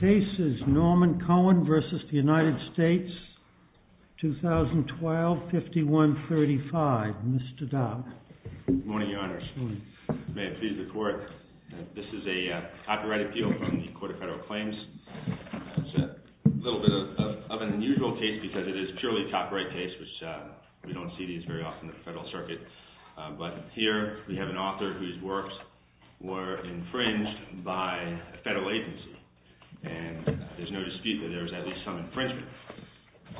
This is Norman Cohen versus the United States, 2012, 5135. Mr. Dobbs. Good morning, Your Honors. May it please the Court. This is a copyright appeal from the Court of Federal Claims. It's a little bit of an unusual case because it is purely a copyright case, which we don't see these very often at the Federal Circuit. But here we have an author whose works were infringed by a federal agency. And there's no dispute that there was at least some infringement.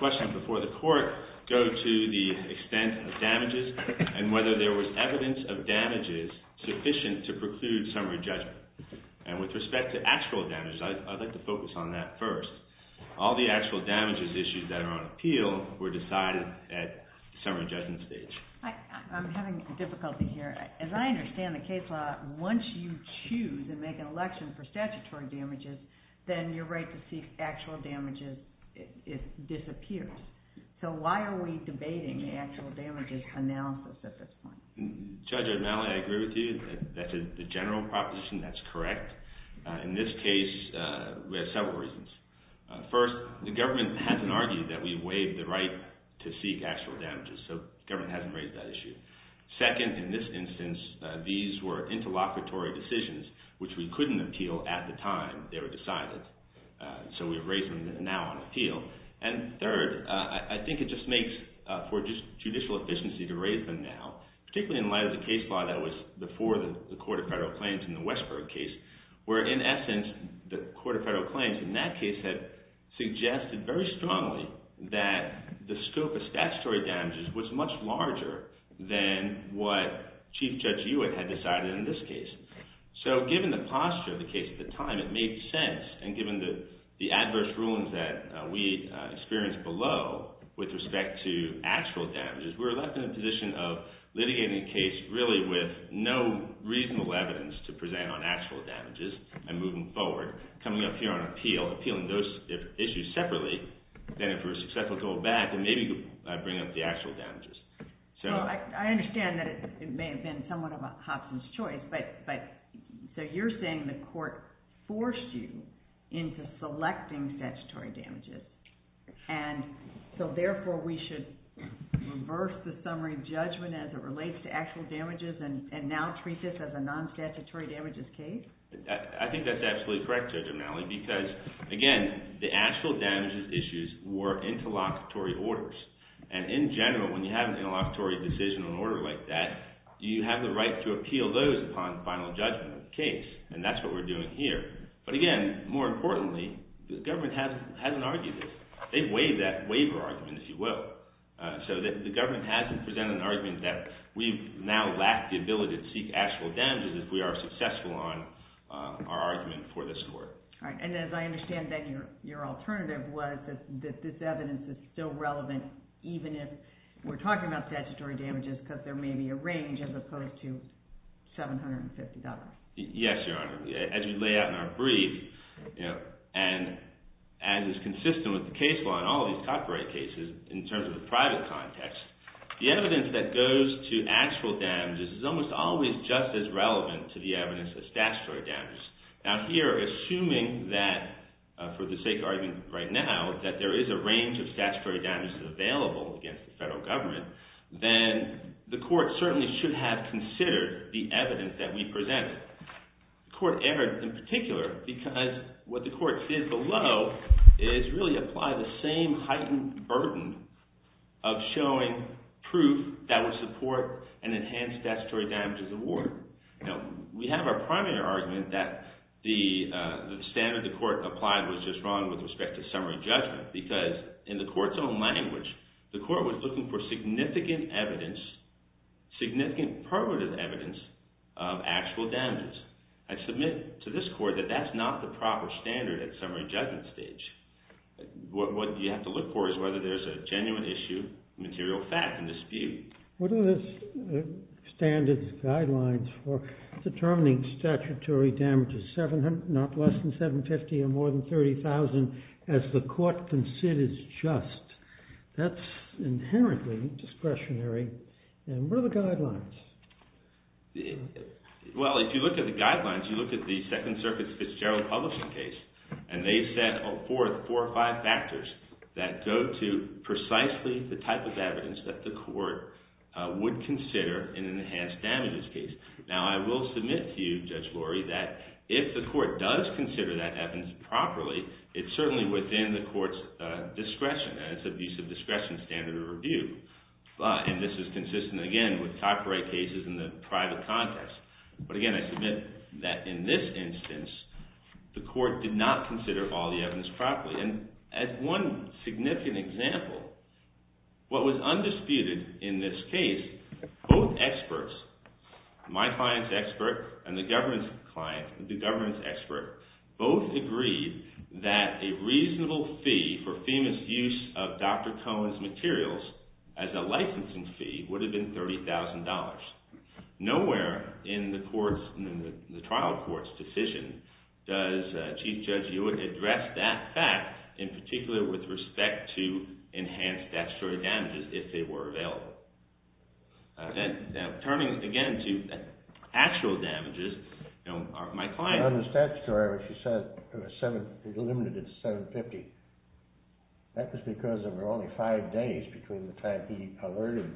Questions before the Court go to the extent of damages and whether there was evidence of damages sufficient to preclude summary judgment. And with respect to actual damages, I'd like to focus on that first. All the actual damages issues that are on appeal were decided at summary judgment stage. I'm having difficulty here. As I understand the case law, once you choose and make an election for statutory damages, then your right to seek actual damages disappears. So why are we debating the actual damages analysis at this point? Judge O'Donnell, I agree with you. That's a general proposition. That's correct. In this case, we had several reasons. First, the government hasn't argued that we waived the right to seek actual damages. So government hasn't raised that issue. Second, in this instance, these were interlocutory decisions, which we couldn't appeal at the time they were decided. So we've raised them now on appeal. And third, I think it just makes for judicial efficiency to raise them now, particularly in light of the case law that was before the Court of Federal Claims in the Westberg case, where in essence, the Court of Federal Claims in that case had suggested very strongly that the scope of statutory damages was much larger than what Chief Judge Hewitt had decided in this case. So given the posture of the case at the time, it made sense. And given the adverse rulings that we experienced below with respect to actual damages, we were left in a position of litigating a case really with no reasonable evidence to present on actual damages and moving forward. Coming up here on appeal, appealing those issues separately, then if we were successful to hold back, then maybe I'd bring up the actual damages. So I understand that it may have been somewhat of a Hopson's choice, but you're saying the court forced you into selecting statutory damages. And so therefore, we should reverse the summary judgment as it relates to actual damages and now treat this as a non-statutory damages case? I think that's absolutely correct, Judge O'Malley, because again, the actual damages issues were interlocutory orders. And in general, when you have an interlocutory decision on an order like that, you have the right to appeal those upon final judgment of the case. And that's what we're doing here. But again, more importantly, the government hasn't argued it. They've waived that waiver argument, if you will. So the government hasn't presented an argument that we've now lacked the ability to seek actual damages if we are successful on our argument for this court. And as I understand, then your alternative was that this evidence is still relevant, even if we're talking about statutory damages, because there may be a range as opposed to $750. Yes, Your Honor. As we lay out in our brief, and as is consistent with the case law in all these copyright cases, in terms of the private context, the evidence that goes to actual damages is almost always just as relevant to the evidence as statutory damages. Now here, assuming that, for the sake of argument right now, that there is a range of statutory damages available against the federal government, then the court certainly should have considered the evidence that we presented. The court erred in particular, because what the court did below is really apply the same heightened burden of showing proof that would support an enhanced statutory damages award. We have our primary argument that the standard the court applied was just wrong with respect to summary judgment, because in the court's own language, the court was looking for significant evidence, significant permanent evidence of actual damages. I submit to this court that that's not the proper standard at summary judgment stage. What you have to look for is whether there's a genuine issue, material fact, and dispute. What are the standard guidelines for determining statutory damages, not less than $750,000 or more than $30,000, as the court considers just? That's inherently discretionary. And what are the guidelines? Well, if you look at the guidelines, you look at the Second Circuit's Fitzgerald Publishing case, and they set forth four or five factors that go to precisely the type of evidence that the court would consider in an enhanced damages case. Now, I will submit to you, Judge Lurie, that if the court does consider that evidence properly, it's certainly within the court's discretion. And it's abuse of discretion standard of review. And this is consistent, again, with copyright cases in the private context. But again, I submit that in this instance, the court did not consider all the evidence properly. And as one significant example, what was undisputed in this case, both experts, my client's expert and the government's expert, both agreed that a reasonable fee for FEMA's use of Dr. Cohen's materials as a licensing fee would have been $30,000. Nowhere in the trial court's decision does Chief Judge Hewitt address that fact, in particular, with respect to enhanced statutory damages, if they were available. Turning, again, to actual damages, my client On the statutory, she said it was limited to $750. That was because there were only five days between the time he alerted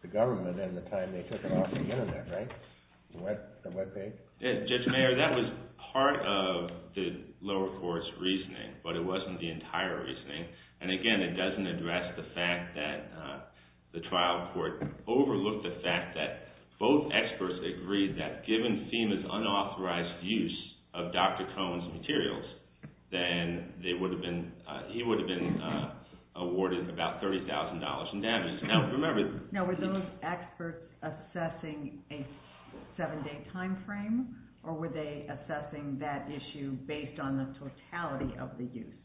the government and the time they took it off the internet, right? The web page? Judge Mayer, that was part of the lower court's reasoning. But it wasn't the entire reasoning. And again, it doesn't address the fact that the trial court overlooked the fact that both experts agreed that given FEMA's unauthorized use of Dr. Cohen's materials, then he would have been awarded about $30,000 in damage. Now, remember, Now, were those experts assessing a seven-day time frame? Or were they assessing that issue based on the totality of the use?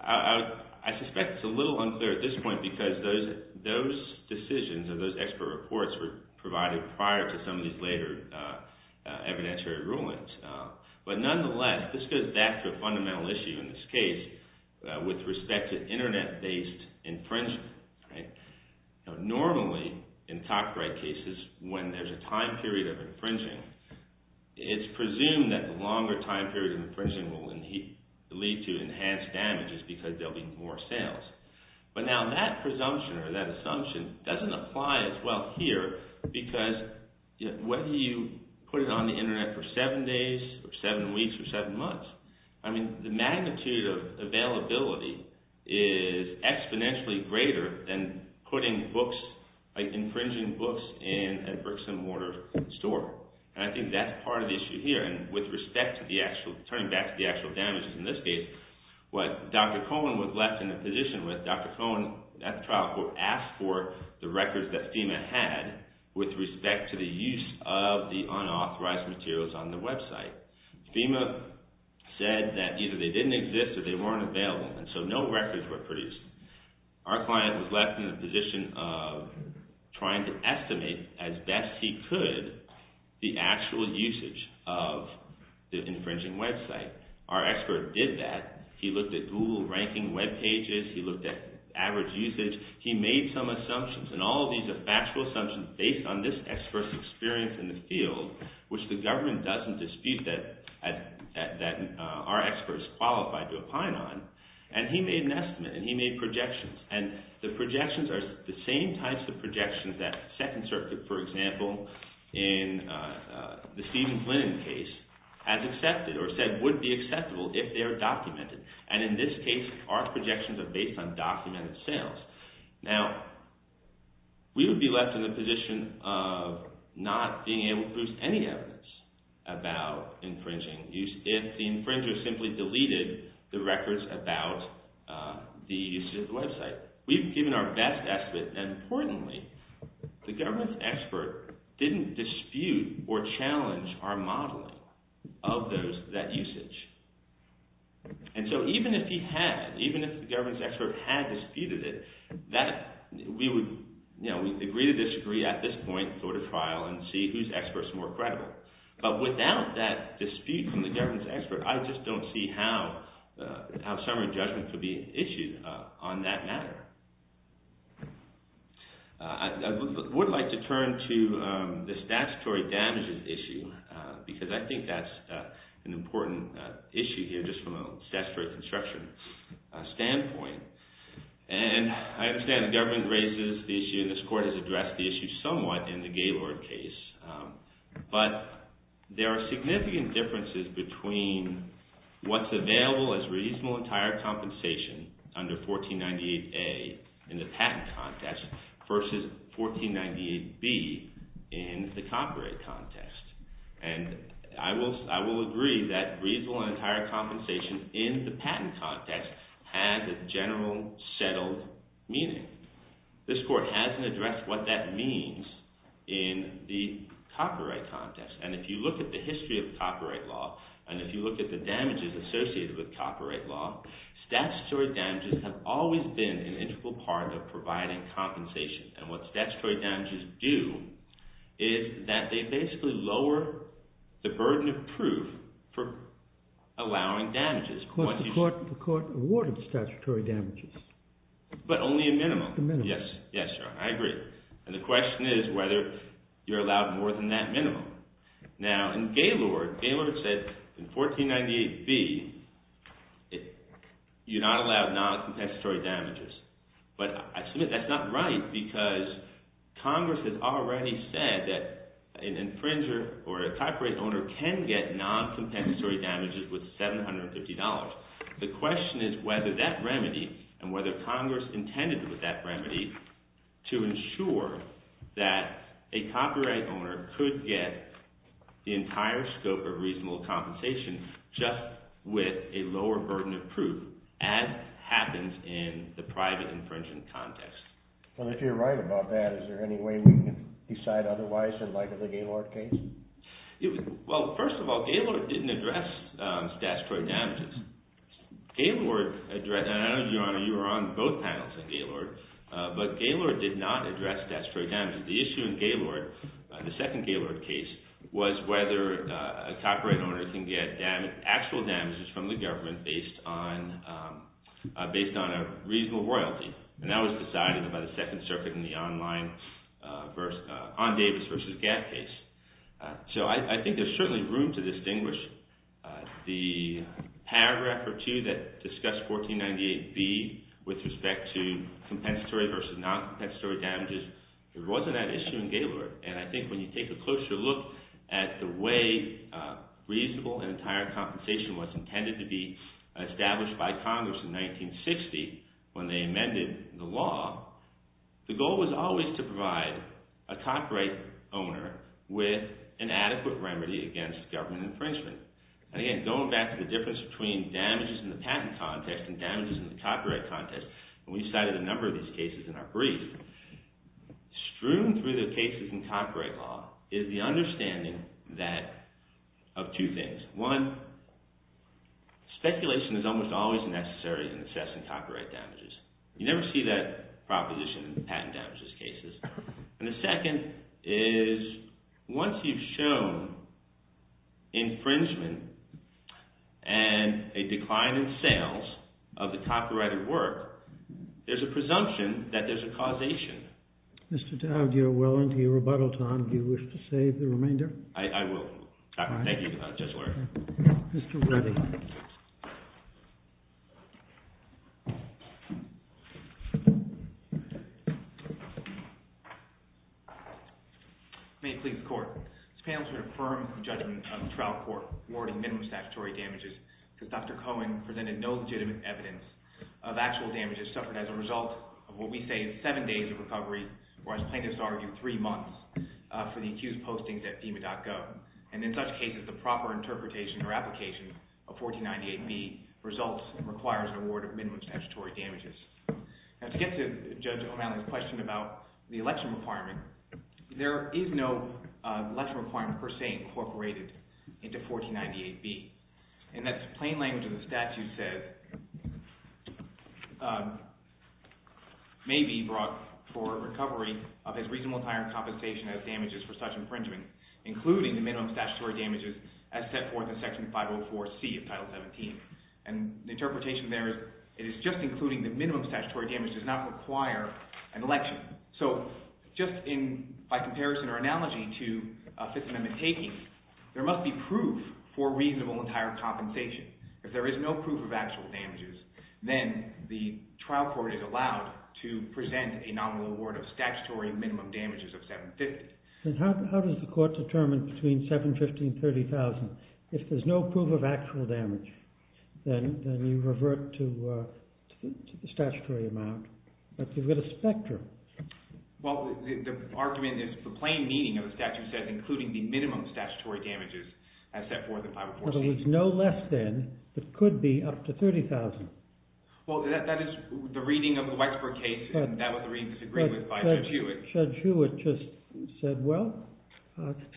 I suspect it's a little unclear at this point, because those decisions, or those expert reports, were provided prior to some of these later evidentiary rulings. But nonetheless, this goes back to a fundamental issue in this case, with respect to internet-based infringement. Normally, in copyright cases, when there's a time period of infringing, it's presumed that the longer time period of infringing will lead to enhanced damages, because there'll be more sales. But now, that presumption, or that assumption, doesn't apply as well here. Because whether you put it on the internet for seven days, or seven weeks, or seven months, I mean, the magnitude of availability is exponentially greater than putting books, infringing books, in a bricks-and-mortar store. And I think that's part of the issue here. And with respect to the actual, turning back to the actual damages in this case, what Dr. Cohen was left in a position with, Dr. Cohen, at the trial court, asked for the records that FEMA had with respect to the use of the unauthorized materials on the website. FEMA said that either they didn't exist, or they weren't available. And so no records were produced. Our client was left in a position of trying to estimate, as best he could, the actual usage of the infringing website. Our expert did that. He looked at Google ranking web pages. He looked at average usage. He made some assumptions. And all of these are factual assumptions based on this expert's experience in the field, which the government doesn't dispute that our expert is qualified to opine on. And he made an estimate, and he made projections. And the projections are the same types of projections that Second Circuit, for example, in the Stephen Flynn case, has accepted, or said would be acceptable if they are documented. And in this case, our projections are based on documented sales. Now, we would be left in a position of not being able to produce any evidence about infringing if the infringer simply deleted the records about the usage of the website. We've given our best estimate, and importantly, the government's expert didn't dispute or challenge our modeling of that usage. And so even if he had, even if the government's expert had disputed it, we would agree to disagree at this point, go to trial, and see whose expert's more credible. But without that dispute from the government's expert, I just don't see how summary judgment could be issued on that matter. I would like to turn to the statutory damages issue, because I think that's an important issue here, just from a statutory construction standpoint. And I understand the government raises the issue, and this court has addressed the issue somewhat in the Gaylord case, but there are significant differences between what's available as reasonable and entire compensation under 1498A in the patent context versus 1498B in the copyright context. And I will agree that reasonable and entire compensation in the patent context has a general, settled meaning. This court hasn't addressed what that means in the copyright context. And if you look at the history of copyright law, and if you look at the damages associated with copyright law, statutory damages have always been an integral part of providing compensation. And what statutory damages do is that they basically lower the burden of proof for allowing damages. But the court awarded statutory damages. But only a minimum. Yes, yes, I agree. And the question is whether you're allowed more than that minimum. Now, in Gaylord, Gaylord said in 1498B, you're not allowed non-competitory damages. But I submit that's not right, because Congress has already said that an infringer or a copyright owner can get non-competitory damages with $750. The question is whether that remedy, and whether Congress intended with that remedy to ensure that a copyright owner could get the entire scope of reasonable compensation just with a lower burden of proof, as happens in the private infringement context. Well, if you're right about that, is there any way we can decide otherwise in light of the Gaylord case? Well, first of all, Gaylord didn't address statutory damages. Gaylord addressed, and I know, Your Honor, you were on both panels on Gaylord, but Gaylord did not address statutory damages. The issue in Gaylord, the second Gaylord case, was whether a copyright owner can get actual damages from the government based on a reasonable royalty. And that was decided by the Second Circuit in the online, on Davis versus Gap case. So I think there's certainly room to distinguish the paragraph or two that discuss 1498B with respect to compensatory versus non-compensatory damages. There wasn't that issue in Gaylord. And I think when you take a closer look at the way reasonable and entire compensation was intended to be established by Congress in 1960 when they amended the law, the goal was always to provide a copyright owner with an adequate remedy against government infringement. And again, going back to the difference between damages in the patent context and damages in the copyright context, and we cited a number of these cases in our brief, strewn through the cases in copyright law is the understanding that, of two things. One, speculation is almost always necessary in assessing copyright damages. You never see that proposition in patent damages cases. And the second is, once you've shown infringement and a decline in sales of the copyrighted work, there's a presumption that there's a causation. Mr. Dowd, you're well into your rebuttal time. Do you wish to save the remainder? I will. Thank you, Judge Lurie. Mr. Reddy. May it please the court. This panel's heard a firm judgment on the trial court awarding minimum statutory damages because Dr. Cohen presented no legitimate evidence of actual damages suffered as a result of what we say is seven days of recovery, or as plaintiffs argue, three months, for the accused postings at FEMA.gov. And in such cases, the proper interpretation or application of 1498B results and requires an award of minimum statutory damages. Now, to get to Judge O'Malley's question about the election requirement, there is no election requirement, per se, incorporated into 1498B. And that's plain language of the statute says, may be brought for recovery of his reasonable time and compensation as damages for such infringement, including the minimum statutory damages as set forth in Section 504C of Title 17. And the interpretation there is, it is just including the minimum statutory damage does not require an election. So just in, by comparison or analogy to Fifth Amendment takings, there must be proof for reasonable and higher compensation. If there is no proof of actual damages, then the trial court is allowed to present a nominal award of statutory minimum damages of 750. And how does the court determine between 750 and 30,000? If there's no proof of actual damage, then you revert to the statutory amount, but you've got a spectrum. Well, the argument is the plain meaning of the statute says, including the minimum statutory damages as set forth in 504C. Well, there was no less than, but could be up to 30,000. Well, that is the reading of the Weisberg case, and that was the reading disagreed with by Judge Hewitt. Judge Hewitt just said, well,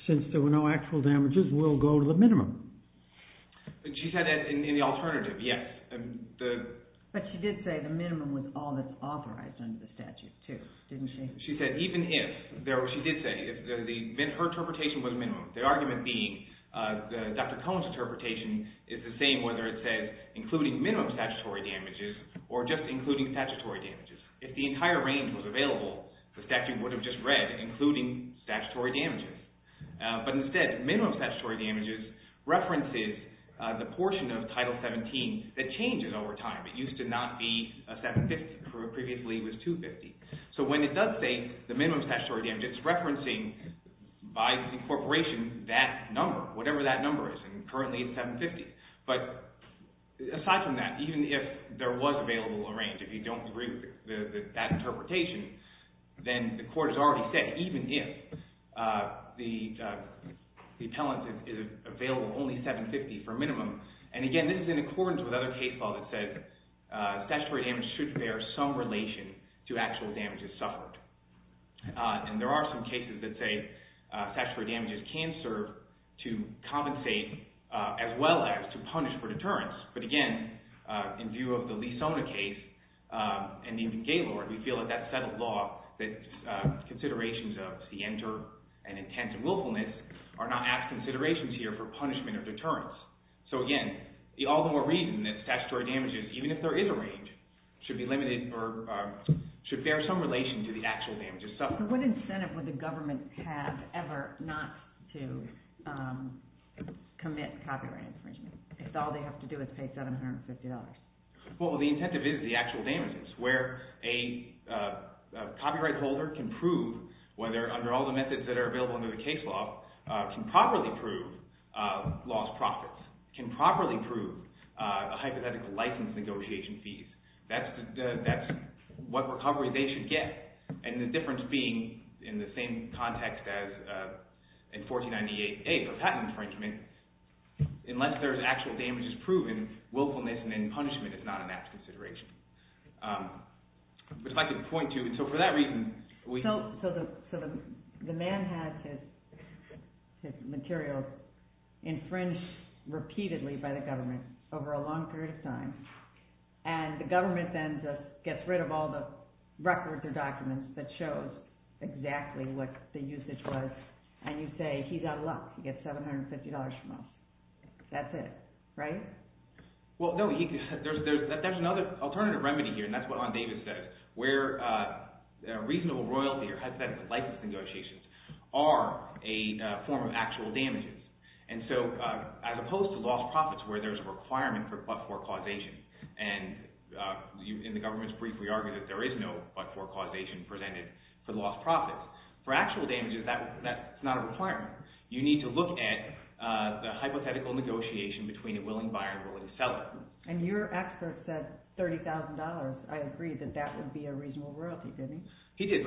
since there were no actual damages, we'll go to the minimum. She said that in the alternative, yes. But she did say the minimum was all that's authorized under the statute too, didn't she? She said even if, she did say, if her interpretation was minimum, the argument being Dr. Cohen's interpretation is the same whether it says including minimum statutory damages or just including statutory damages. If the entire range was available, the statute would have just read including statutory damages. But instead, minimum statutory damages references the portion of Title 17 that changes over time. It used to not be a 750, previously it was 250. So when it does say the minimum statutory damage, it's referencing by incorporation that number, whatever that number is, and currently it's 750. But aside from that, even if there was available a range, if you don't agree with that interpretation, then the court has already said, even if the appellant is available, only 750 for minimum. And again, this is in accordance with other case law that said statutory damage should bear some relation to actual damages suffered. And there are some cases that say statutory damages can serve to compensate as well as to punish for deterrence. But again, in view of the Lee-Sona case, and even Gaylord, we feel that that's settled law that considerations of the enter and intent and willfulness are not asked considerations here for punishment or deterrence. So again, the all the more reason that statutory damages, even if there is a range, should be limited or should bear some relation to the actual damages suffered. So what incentive would the government have ever not to commit copyright infringement if all they have to do is pay $750? Well, the incentive is the actual damages where a copyright holder can prove whether under all the methods that are available under the case law can properly prove lost profits, can properly prove a hypothetical license negotiation fees. That's what recovery they should get. And the difference being in the same context as in 1498A for patent infringement, unless there's actual damages proven, willfulness and then punishment is not a matched consideration. But I'd like to point to, and so for that reason, we- So the man has his materials infringed repeatedly by the government over a long period of time. And the government then gets rid of all the records or documents that shows exactly what the usage was. And you say, he's out of luck, he gets $750 from us. That's it, right? Well, no, there's another alternative remedy here. And that's what Ron Davis says, where a reasonable royalty or hypothetical license negotiations are a form of actual damages. And so as opposed to lost profits where there's a requirement for but-for causation, and in the government's brief, we argue that there is no but-for causation presented for the lost profits. For actual damages, that's not a requirement. You need to look at the hypothetical negotiation between a willing buyer and a willing seller. And your expert said $30,000. I agree that that would be a reasonable royalty, didn't he? He did.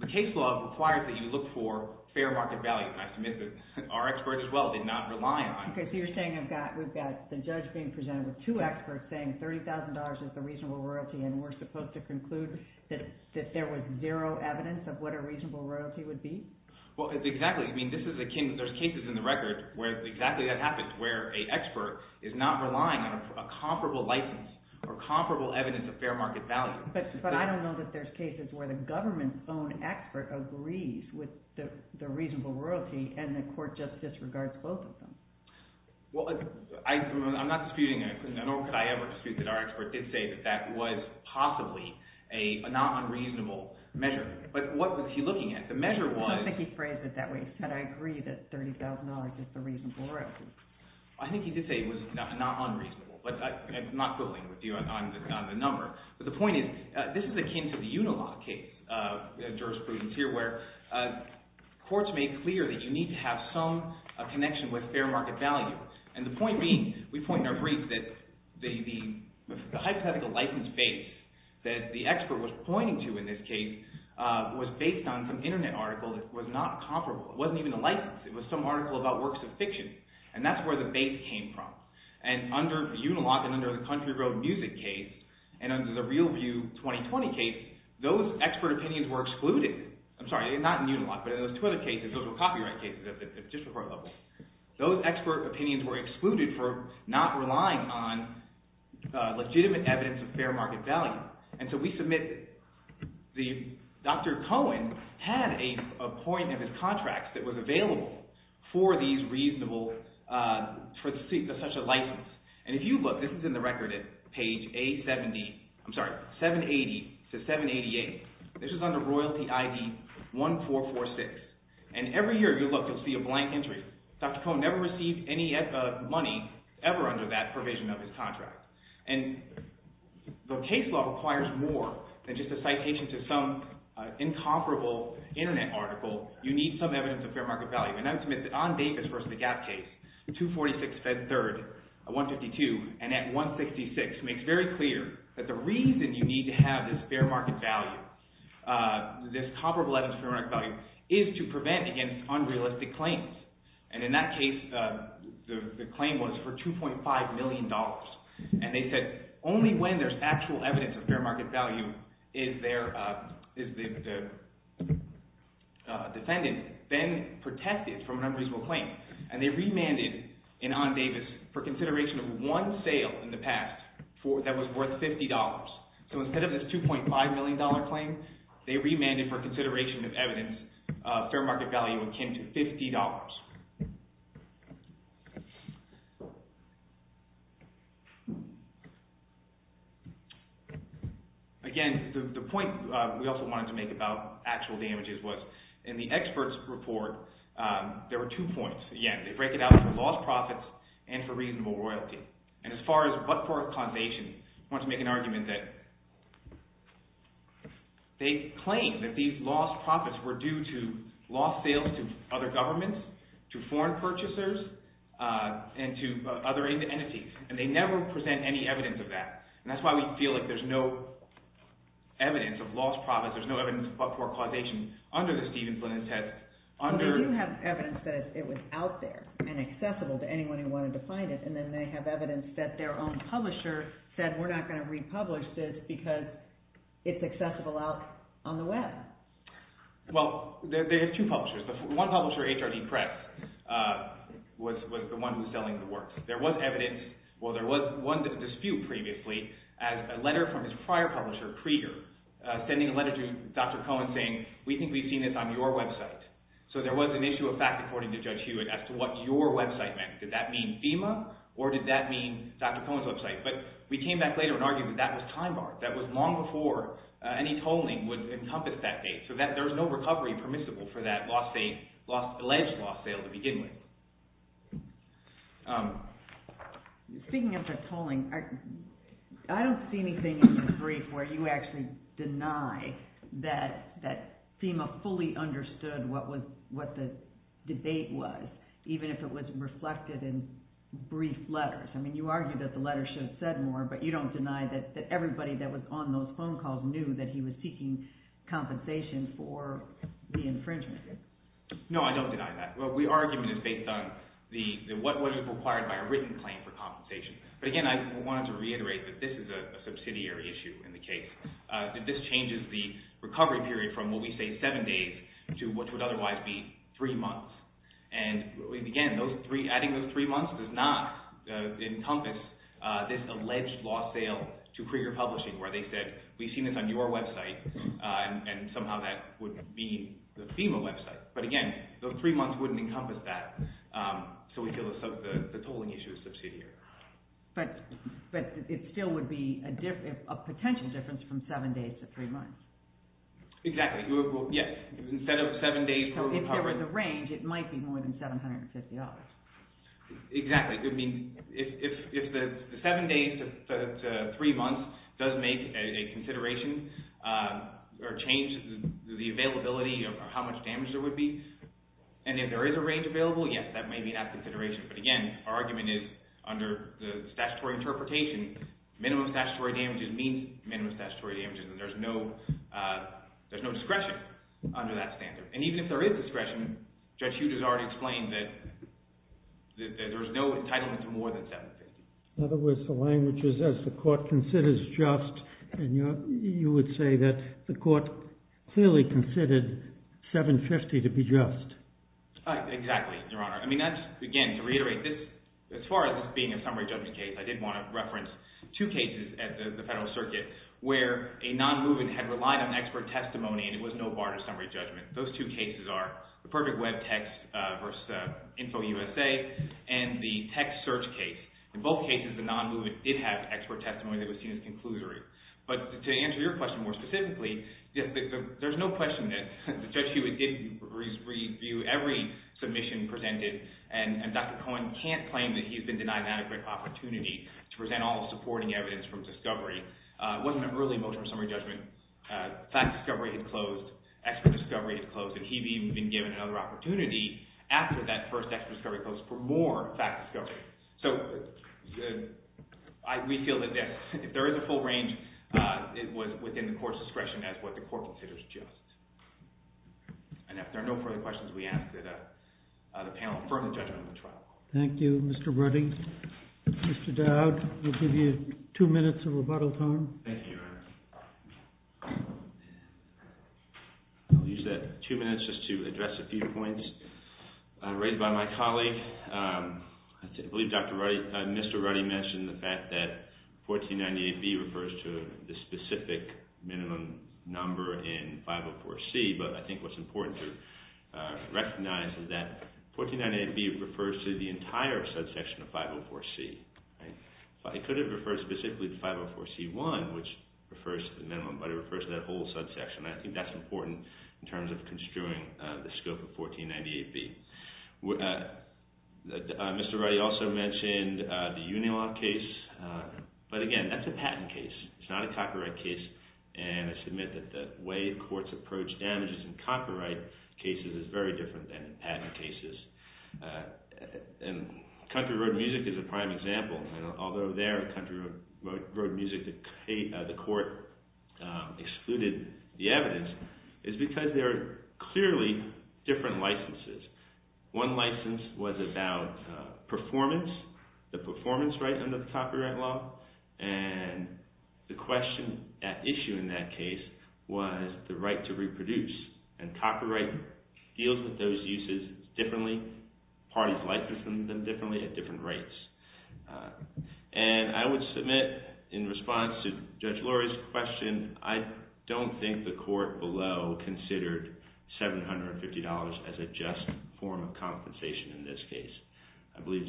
The case law requires that you look for fair market value. And I submit that our expert as well did not rely on it. Okay, so you're saying we've got the judge being presented with two experts saying $30,000 is a reasonable royalty, and we're supposed to conclude that there was zero evidence of what a reasonable royalty would be? Well, exactly. I mean, this is akin, there's cases in the record where exactly that happens, where a expert is not relying on a comparable license or comparable evidence of fair market value. But I don't know that there's cases where the government's own expert agrees with the reasonable royalty, and the court just disregards both of them. Well, I'm not disputing, nor could I ever dispute that our expert did say that that was possibly a not unreasonable measure. But what was he looking at? The measure was- I don't think he phrased it that way. He said, I agree that $30,000 is a reasonable royalty. I think he did say it was not unreasonable, but I'm not going with you on the number. But the point is, this is akin to the Unilaw case, jurisprudence here, where courts made clear that you need to have some connection with fair market value. And the point being, we point in our brief that the hypothetical license base that the expert was pointing to in this case was based on some internet article that was not comparable. It wasn't even a license. It was some article about works of fiction. And that's where the base came from. And under Unilaw, and under the Country Road Music case, and under the Real View 2020 case, those expert opinions were excluded. I'm sorry, not in Unilaw, but in those two other cases, those were copyright cases at the district court level. Those expert opinions were excluded for not relying on legitimate evidence of fair market value. And so we submit, Dr. Cohen had a point of his contract that was available for these reasonable, for such a license. And if you look, this is in the record at page A70, I'm sorry, 780 to 788. This is under royalty ID 1446. And every year, if you look, you'll see a blank entry. Dr. Cohen never received any money ever under that provision of his contract. And the case law requires more than just a citation to some incomparable internet article you need some evidence of fair market value. And I submit that on Davis versus the Gap case, 246 fed third, 152, and at 166, makes very clear that the reason you need to have this fair market value, this comparable evidence of fair market value, is to prevent against unrealistic claims. And in that case, the claim was for $2.5 million. And they said, only when there's actual evidence of fair market value is there, the defendant then protected from an unreasonable claim. And they remanded in on Davis for consideration of one sale in the past that was worth $50. So instead of this $2.5 million claim, they remanded for consideration of evidence of fair market value akin to $50. Again, the point we also wanted to make about actual damages was in the expert's report, there were two points. Again, they break it out for lost profits and for reasonable royalty. And as far as what for a condition, I want to make an argument that they claim that these lost profits were due to lost sales to other governments, to foreign purchasers, and to other entities. And they never present any evidence of that. And that's why we feel like there's no evidence of lost profits. There's no evidence for causation under the Stephen Flynn test. Under- They do have evidence that it was out there and accessible to anyone who wanted to find it. And then they have evidence that their own publisher said, we're not going to republish this because it's accessible out on the web. Well, there are two publishers. One publisher, HRD Press, was the one who's selling the work. There was evidence, well, there was one dispute previously as a letter from his prior publisher, Krieger, sending a letter to Dr. Cohen saying, we think we've seen this on your website. So there was an issue of fact, according to Judge Hewitt, as to what your website meant. Did that mean FEMA or did that mean Dr. Cohen's website? But we came back later and argued that that was time-barred. That was long before any tolling would encompass that date. So there was no recovery permissible for that alleged lost sale to begin with. Speaking of the tolling, I don't see anything in your brief where you actually deny that FEMA fully understood what the debate was, even if it was reflected in brief letters. I mean, you argue that the letters should have said more, but you don't deny that everybody that was on those phone calls knew that he was seeking compensation for the infringement. No, I don't deny that. Well, the argument is based on what was required by a written claim for compensation. But again, I wanted to reiterate that this is a subsidiary issue in the case, that this changes the recovery period from what we say seven days to what would otherwise be three months. And again, adding those three months does not encompass this alleged lost sale to Krieger Publishing where they said, we've seen this on your website, and somehow that would mean the FEMA website. But again, those three months wouldn't encompass that. So we feel the tolling issue is subsidiary. But it still would be a potential difference from seven days to three months. Exactly. Yes. Instead of seven days for the department. So if there was a range, it might be more than $750. Exactly. I mean, if the seven days to three months does make a consideration or change the availability or how much damage there would be. And if there is a range available, yes, that may be that consideration. But again, our argument is under the statutory interpretation, minimum statutory damages means minimum statutory damages. And there's no discretion under that standard. And even if there is discretion, Judge Hughes has already explained that there's no entitlement to more than seven days. In other words, the language is, as the court considers just, and you would say that the court clearly considered $750 to be just. Exactly, Your Honor. I mean, that's, again, to reiterate, as far as this being a summary judgment case, I did want to reference two cases at the Federal Circuit where a non-movement had relied on expert testimony and it was no bar to summary judgment. Those two cases are the perfect web text versus InfoUSA and the text search case. In both cases, the non-movement did have expert testimony that was seen as conclusory. But to answer your question more specifically, there's no question that Judge Hughes did review every submission presented. And Dr. Cohen can't claim that he's been denied that a great opportunity to present all the supporting evidence from discovery. It wasn't really a motion for summary judgment. Fact discovery had closed. Expert discovery had closed. And he'd even been given another opportunity after that first expert discovery closed for more fact discovery. So we feel that if there is a full range, it was within the court's discretion as what the court considers just. And if there are no further questions, we ask that the panel affirm the judgment of the trial. Thank you, Mr. Brutty. Mr. Dowd, we'll give you two minutes of rebuttal time. Thank you, Your Honor. I'll use that two minutes just to address a few points. Raised by my colleague, I believe Mr. Ruddy mentioned the fact that 1498B refers to the specific minimum number in 504C. But I think what's important to recognize is that 1498B refers to the entire subsection of 504C. It could have referred specifically to 504C1, which refers to the minimum, but it refers to that whole subsection. I think that's important in terms of construing the scope of 1498B. Mr. Ruddy also mentioned the Unilon case. But again, that's a patent case. It's not a copyright case. And I submit that the way courts approach damages in copyright cases is very different than in patent cases. And Country Road Music is a prime example. Although there in Country Road Music the court excluded the evidence, it's because there are clearly different licenses. One license was about performance, the performance right under the copyright law. And the question at issue in that case was the right to reproduce. And copyright deals with those uses differently. Parties license them differently at different rates. And I would submit in response to Judge Lurie's question, I don't think the court below considered $750 as a just form of compensation in this case. I believe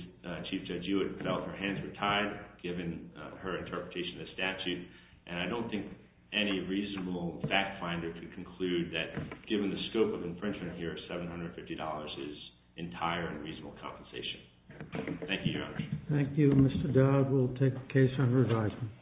Chief Judge Hewitt felt her hands were tied, given her interpretation of the statute. And I don't think any reasonable fact finder could conclude that, given the scope of infringement here, $750 is entire and reasonable compensation. Thank you, Your Honor. Thank you, Mr. Dodd. We'll take the case on revisement.